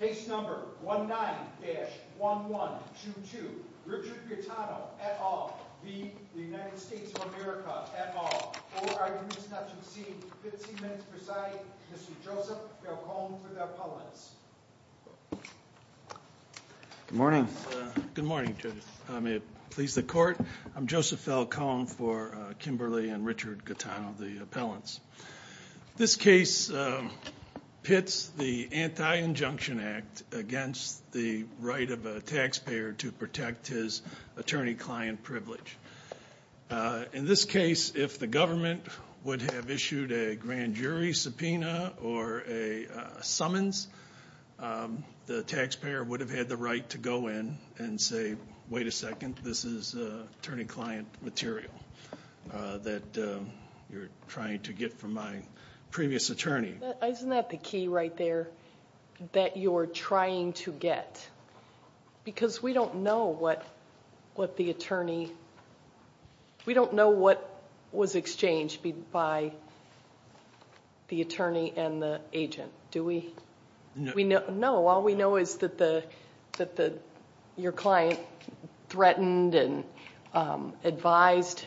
Case number 19-1122, Richard Gaetano, et al. v. the United States of America, et al. Four arguments not to be seen, 15 minutes presiding, Mr. Joseph Falcone for the appellants. Good morning. Good morning, Judge. May it please the court, I'm Joseph Falcone for Kimberly and Richard Gaetano, the appellants. This case pits the Anti-Injunction Act against the right of a taxpayer to protect his attorney-client privilege. In this case, if the government would have issued a grand jury subpoena or a summons, the taxpayer would have had the right to go in and say, wait a second, this is attorney-client material that you're trying to get from my previous attorney. Isn't that the key right there, that you're trying to get? Because we don't know what the attorney, we don't know what was exchanged by the attorney and the agent, do we? No, all we know is that your client threatened and advised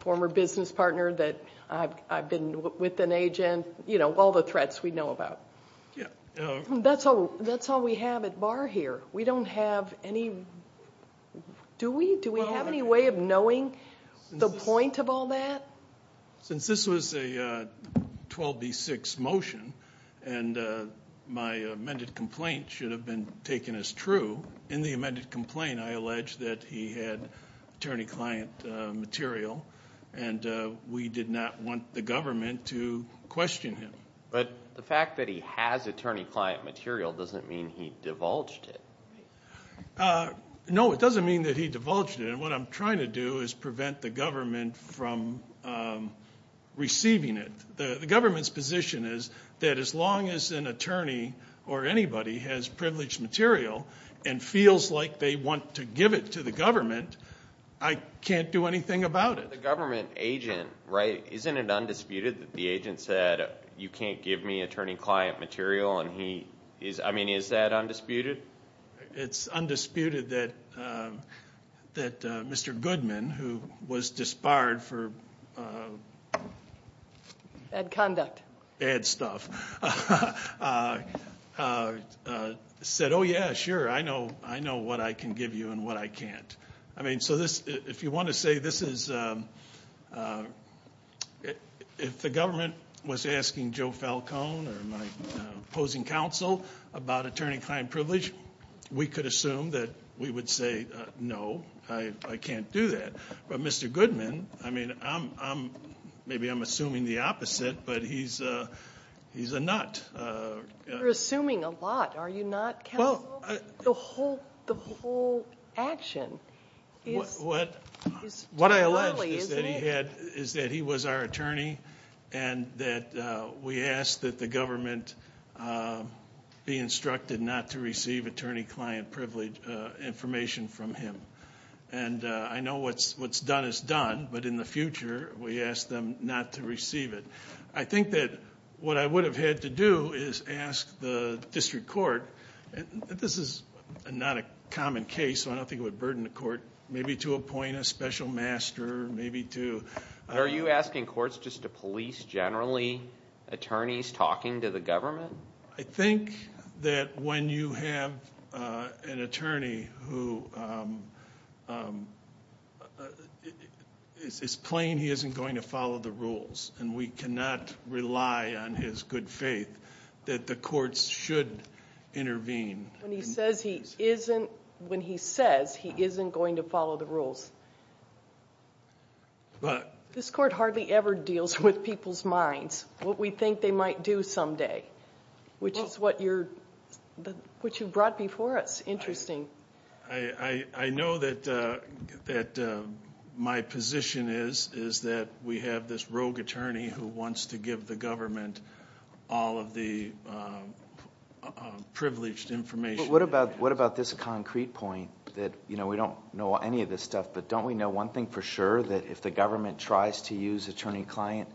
a former business partner that I've been with an agent, you know, all the threats we know about. That's all we have at bar here. We don't have any, do we? Do we have any way of knowing the point of all that? Since this was a 12B6 motion, and my amended complaint should have been taken as true, in the amended complaint, I allege that he had attorney-client material, and we did not want the government to question him. But the fact that he has attorney-client material doesn't mean he divulged it. No, it doesn't mean that he divulged it. And what I'm trying to do is prevent the government from receiving it. The government's position is that as long as an attorney or anybody has privileged material and feels like they want to give it to the government, I can't do anything about it. The government agent, right, isn't it undisputed that the agent said, you can't give me attorney-client material? I mean, is that undisputed? It's undisputed that Mr. Goodman, who was disbarred for bad stuff, said, oh yeah, sure, I know what I can give you and what I can't. I mean, so this, if you want to say this is, if the government was asking Joe Falcone or my opposing counsel about attorney-client privilege, we could assume that we would say no, I can't do that. But Mr. Goodman, I mean, maybe I'm assuming the opposite, but he's a nut. You're assuming a lot, are you not, counsel? The whole action is too early, isn't it? What I allege is that he was our attorney and that we asked that the government be instructed not to receive attorney-client privilege information from him. And I know what's done is done, but in the future, we ask them not to receive it. I think that what I would have had to do is ask the district court, and this is not a common case, so I don't think it would burden the court, maybe to appoint a special master, maybe to... Are you asking courts just to police, generally, attorneys talking to the government? I think that when you have an attorney who is plain he isn't going to follow the rules, and we cannot rely on his good faith, that the courts should intervene. When he says he isn't, when he says he isn't going to follow the rules. This court hardly ever deals with people's minds, what we think they might do someday, which is what you brought before us. Interesting. I know that my position is that we have this rogue attorney who wants to give the government all of the privileged information. What about this concrete point, that we don't know any of this stuff, but don't we know one thing for sure, that if the government tries to use attorney-client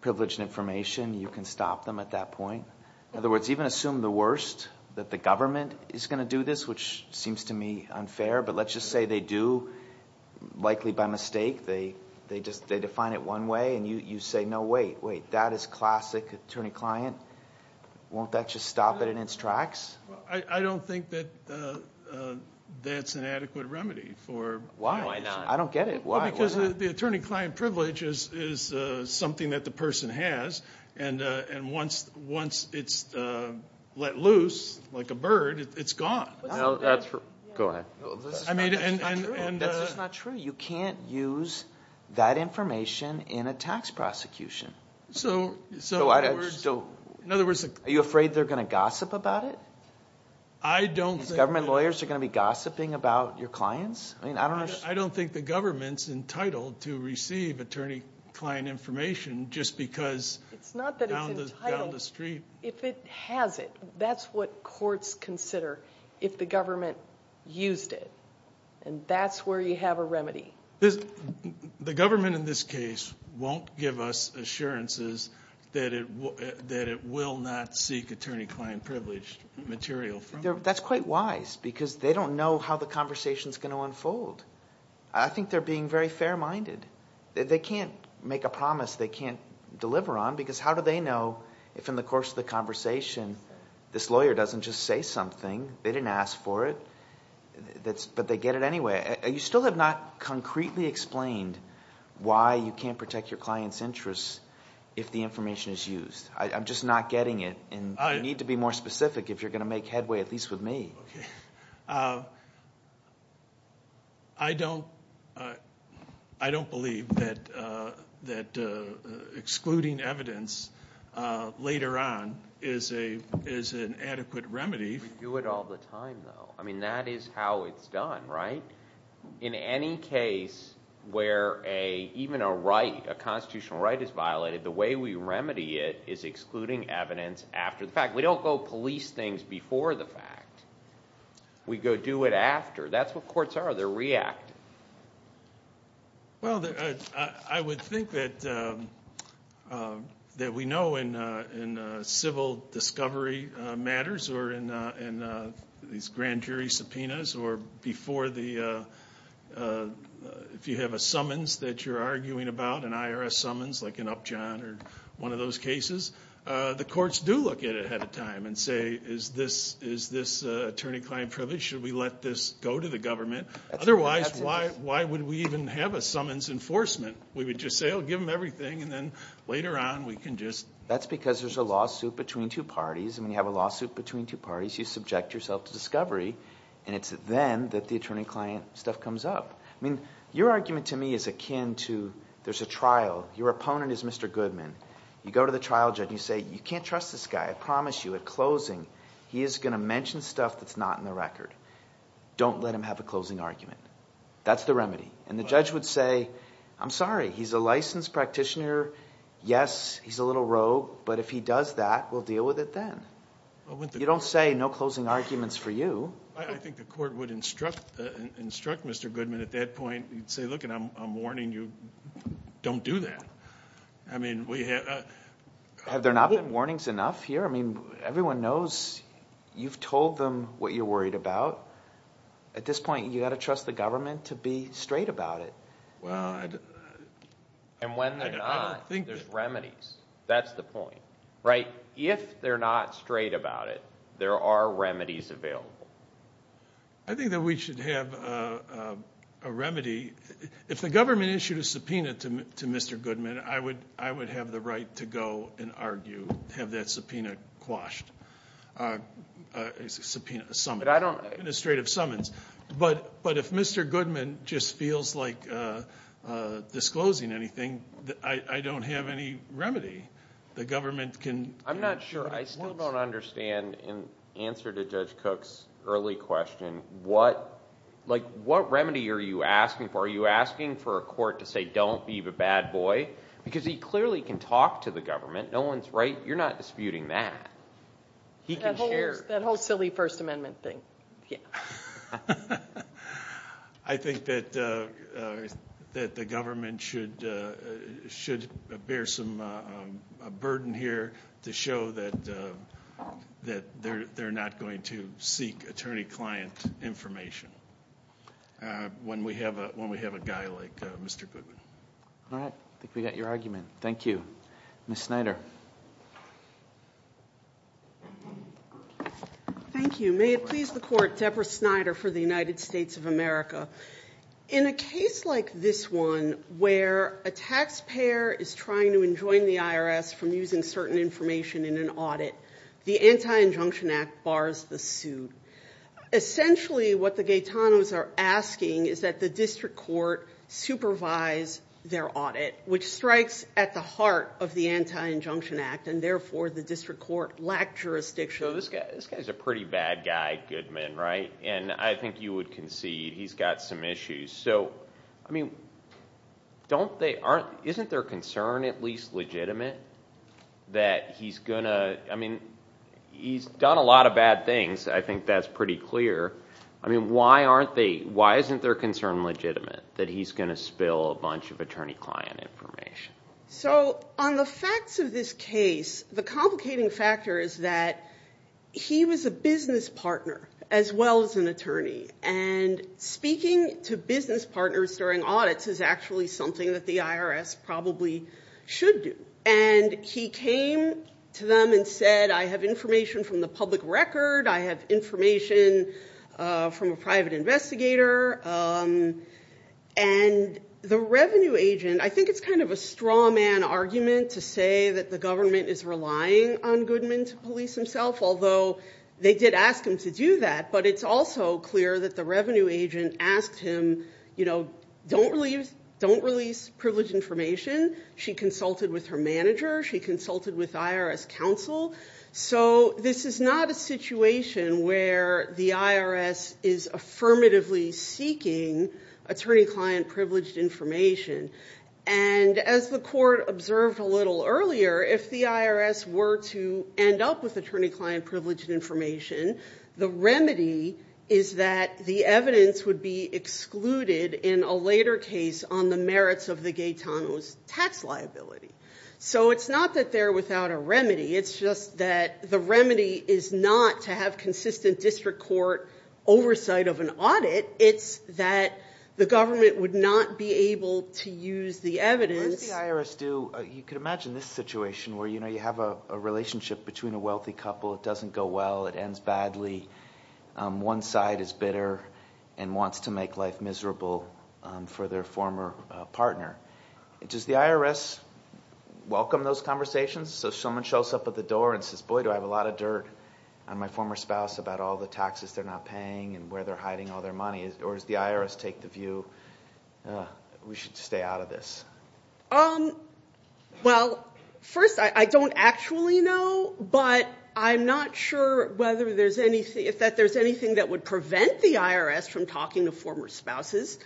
privileged information, you can stop them at that point? In other words, even assume the worst, that the government is going to do this, which seems to me unfair, but let's just say they do, likely by mistake. They define it one way, and you say, no, wait, wait, that is classic attorney-client. Won't that just stop it in its tracks? I don't think that that's an adequate remedy. Why not? I don't get it. Because the attorney-client privilege is something that the person has, and once it's let loose, like a bird, it's gone. Go ahead. That's just not true. You can't use that information in a tax prosecution. Are you afraid they're going to gossip about it? Government lawyers are going to be gossiping about your clients? I don't think the government's entitled to receive attorney-client information just because down the street. It's not that it's entitled. If it has it, that's what courts consider if the government used it, and that's where you have a remedy. The government in this case won't give us assurances that it will not seek attorney-client-privileged material from you. That's quite wise because they don't know how the conversation is going to unfold. I think they're being very fair-minded. They can't make a promise they can't deliver on because how do they know if in the course of the conversation this lawyer doesn't just say something? They didn't ask for it, but they get it anyway. You still have not concretely explained why you can't protect your client's interests if the information is used. I'm just not getting it, and you need to be more specific if you're going to make headway, at least with me. I don't believe that excluding evidence later on is an adequate remedy. We do it all the time, though. That is how it's done, right? In any case where even a constitutional right is violated, the way we remedy it is excluding evidence after the fact. We don't go police things before the fact. We go do it after. That's what courts are. They're reactive. I would think that we know in civil discovery matters or in these grand jury subpoenas or if you have a summons that you're arguing about, an IRS summons like an Upjohn or one of those cases, the courts do look at it ahead of time and say, Is this attorney-client privilege? Should we let this go to the government? Otherwise, why would we even have a summons enforcement? We would just say, Oh, give them everything, and then later on we can just... That's because there's a lawsuit between two parties, and when you have a lawsuit between two parties, you subject yourself to discovery, and it's then that the attorney-client stuff comes up. I mean, your argument to me is akin to there's a trial. Your opponent is Mr. Goodman. You go to the trial judge and you say, You can't trust this guy. I promise you at closing, he is going to mention stuff that's not in the record. Don't let him have a closing argument. That's the remedy. And the judge would say, I'm sorry. He's a licensed practitioner. Yes, he's a little rogue, but if he does that, we'll deal with it then. You don't say no closing arguments for you. I think the court would instruct Mr. Goodman at that point. You'd say, Look, I'm warning you, don't do that. Have there not been warnings enough here? I mean, everyone knows you've told them what you're worried about. At this point, you've got to trust the government to be straight about it. And when they're not, there's remedies. That's the point. If they're not straight about it, there are remedies available. I think that we should have a remedy. If the government issued a subpoena to Mr. Goodman, I would have the right to go and argue, have that subpoena quashed. Subpoena, administrative summons. But if Mr. Goodman just feels like disclosing anything, I don't have any remedy. I'm not sure. I still don't understand. In answer to Judge Cook's early question, what remedy are you asking for? Are you asking for a court to say, Don't be the bad boy? Because he clearly can talk to the government. No one's right. You're not disputing that. That whole silly First Amendment thing. Yeah. I think that the government should bear some burden here to show that they're not going to seek attorney-client information when we have a guy like Mr. Goodman. All right. I think we got your argument. Thank you. Ms. Snyder. Thank you. May it please the Court, Deborah Snyder for the United States of America. In a case like this one where a taxpayer is trying to enjoin the IRS from using certain information in an audit, the Anti-Injunction Act bars the suit. Essentially what the Gaetanos are asking is that the district court supervise their audit, which strikes at the heart of the Anti-Injunction Act, and therefore the district court lacked jurisdiction. So this guy is a pretty bad guy, Goodman, right? And I think you would concede he's got some issues. So, I mean, don't they aren't, isn't their concern at least legitimate that he's going to, I mean, he's done a lot of bad things. I think that's pretty clear. I mean, why aren't they, why isn't their concern legitimate that he's going to spill a bunch of attorney-client information? So on the facts of this case, the complicating factor is that he was a business partner as well as an attorney. And speaking to business partners during audits is actually something that the IRS probably should do. And he came to them and said, I have information from the public record. I have information from a private investigator. And the revenue agent, I think it's kind of a straw man argument to say that the government is relying on Goodman to police himself, although they did ask him to do that. But it's also clear that the revenue agent asked him, you know, don't release privilege information. She consulted with her manager. She consulted with IRS counsel. So this is not a situation where the IRS is affirmatively seeking attorney-client privileged information. And as the court observed a little earlier, if the IRS were to end up with attorney-client privileged information, the remedy is that the evidence would be excluded in a later case on the merits of the Gaetano's tax liability. So it's not that they're without a remedy. It's just that the remedy is not to have consistent district court oversight of an audit. It's that the government would not be able to use the evidence. What does the IRS do? You can imagine this situation where, you know, you have a relationship between a wealthy couple. It doesn't go well. It ends badly. One side is bitter and wants to make life miserable for their former partner. Does the IRS welcome those conversations? So if someone shows up at the door and says, boy, do I have a lot of dirt on my former spouse about all the taxes they're not paying and where they're hiding all their money, or does the IRS take the view, we should stay out of this? Well, first, I don't actually know, but I'm not sure whether there's anything, if there's anything that would prevent the IRS from talking to former spouses.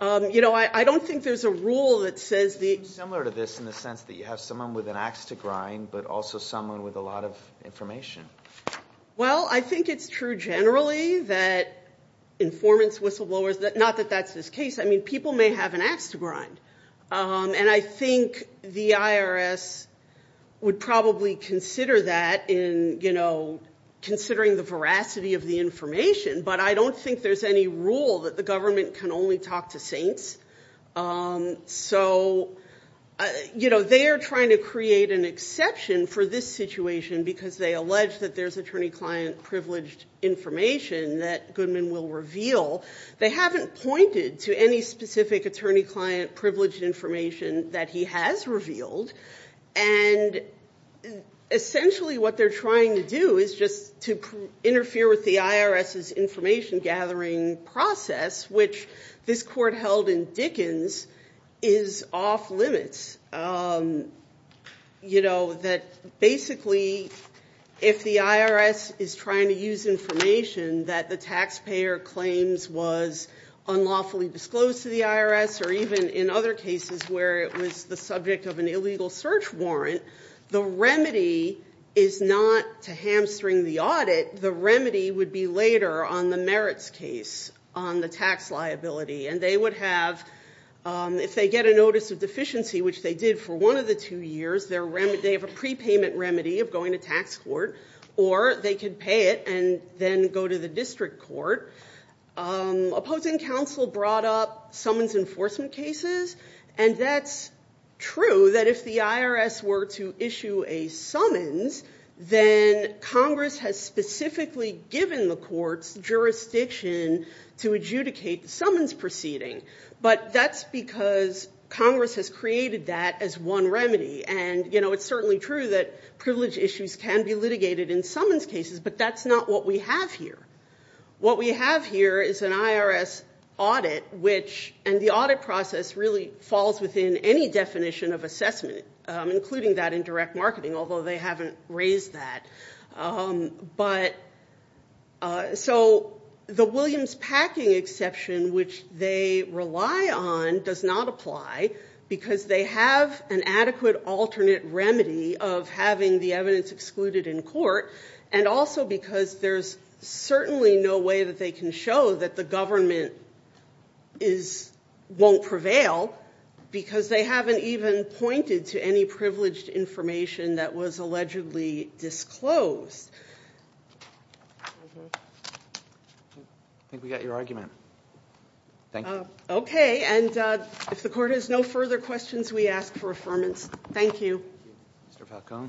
You know, I don't think there's a rule that says the – It's similar to this in the sense that you have someone with an axe to grind but also someone with a lot of information. Well, I think it's true generally that informants, whistleblowers, not that that's this case. I mean, people may have an axe to grind, and I think the IRS would probably consider that in, you know, considering the veracity of the information, but I don't think there's any rule that the government can only talk to saints. So, you know, they are trying to create an exception for this situation because they allege that there's attorney-client privileged information that Goodman will reveal. They haven't pointed to any specific attorney-client privileged information that he has revealed, and essentially what they're trying to do is just to interfere with the IRS's information-gathering process, which this court held in Dickens is off-limits, you know, that basically if the IRS is trying to use information that the taxpayer claims was unlawfully disclosed to the IRS or even in other cases where it was the subject of an illegal search warrant, the remedy is not to hamstring the audit. The remedy would be later on the merits case on the tax liability, and they would have, if they get a notice of deficiency, which they did for one of the two years, they have a prepayment remedy of going to tax court, or they could pay it and then go to the district court. Opposing counsel brought up summons enforcement cases, and that's true that if the IRS were to issue a summons, then Congress has specifically given the courts jurisdiction to adjudicate the summons proceeding, but that's because Congress has created that as one remedy, and, you know, it's certainly true that privilege issues can be litigated in summons cases, but that's not what we have here. What we have here is an IRS audit, and the audit process really falls within any definition of assessment, including that in direct marketing, although they haven't raised that. So the Williams-Packing exception, which they rely on, does not apply, because they have an adequate alternate remedy of having the evidence excluded in court, and also because there's certainly no way that they can show that the government won't prevail, because they haven't even pointed to any privileged information that was allegedly disclosed. I think we got your argument. Thank you. Okay, and if the court has no further questions, we ask for affirmance. Thank you. Mr. Falcone.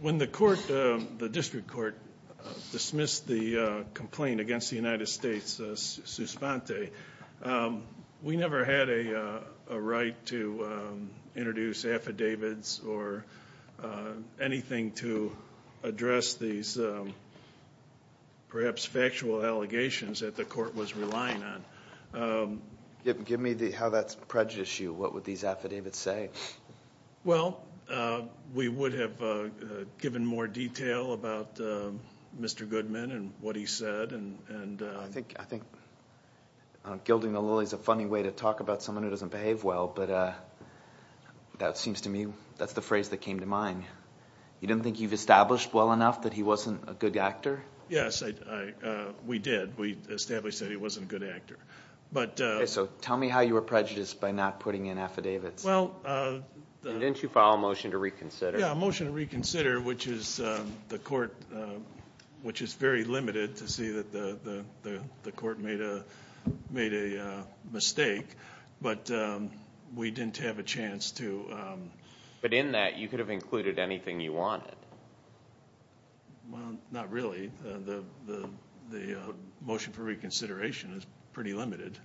When the court, the district court, dismissed the complaint against the United States Suspente, we never had a right to introduce affidavits or anything to address these perhaps factual allegations that the court was relying on. Give me how that prejudiced you. What would these affidavits say? Well, we would have given more detail about Mr. Goodman and what he said. I think gilding the lily is a funny way to talk about someone who doesn't behave well, but that seems to me that's the phrase that came to mind. You don't think you've established well enough that he wasn't a good actor? Yes, we did. We established that he wasn't a good actor. So tell me how you were prejudiced by not putting in affidavits. Well, the Didn't you file a motion to reconsider? Yeah, a motion to reconsider, which is the court, which is very limited to see that the court made a mistake, but we didn't have a chance to But in that, you could have included anything you wanted. Well, not really. The motion for reconsideration is pretty limited.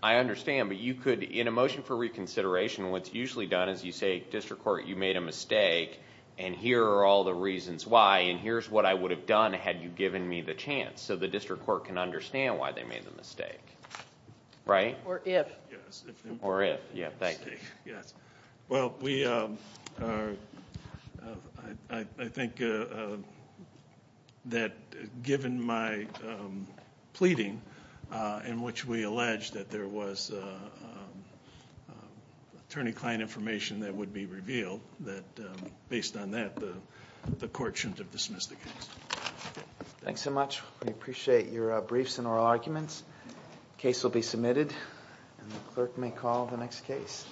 I understand, but you could, in a motion for reconsideration, what's usually done is you say, district court, you made a mistake, and here are all the reasons why, and here's what I would have done had you given me the chance, so the district court can understand why they made the mistake, right? Or if. Or if, yeah, thank you. Well, I think that given my pleading, in which we alleged that there was attorney-client information that would be revealed, that based on that, the court shouldn't have dismissed the case. Thanks so much. We appreciate your briefs and oral arguments. The case will be submitted, and the clerk may call the next case.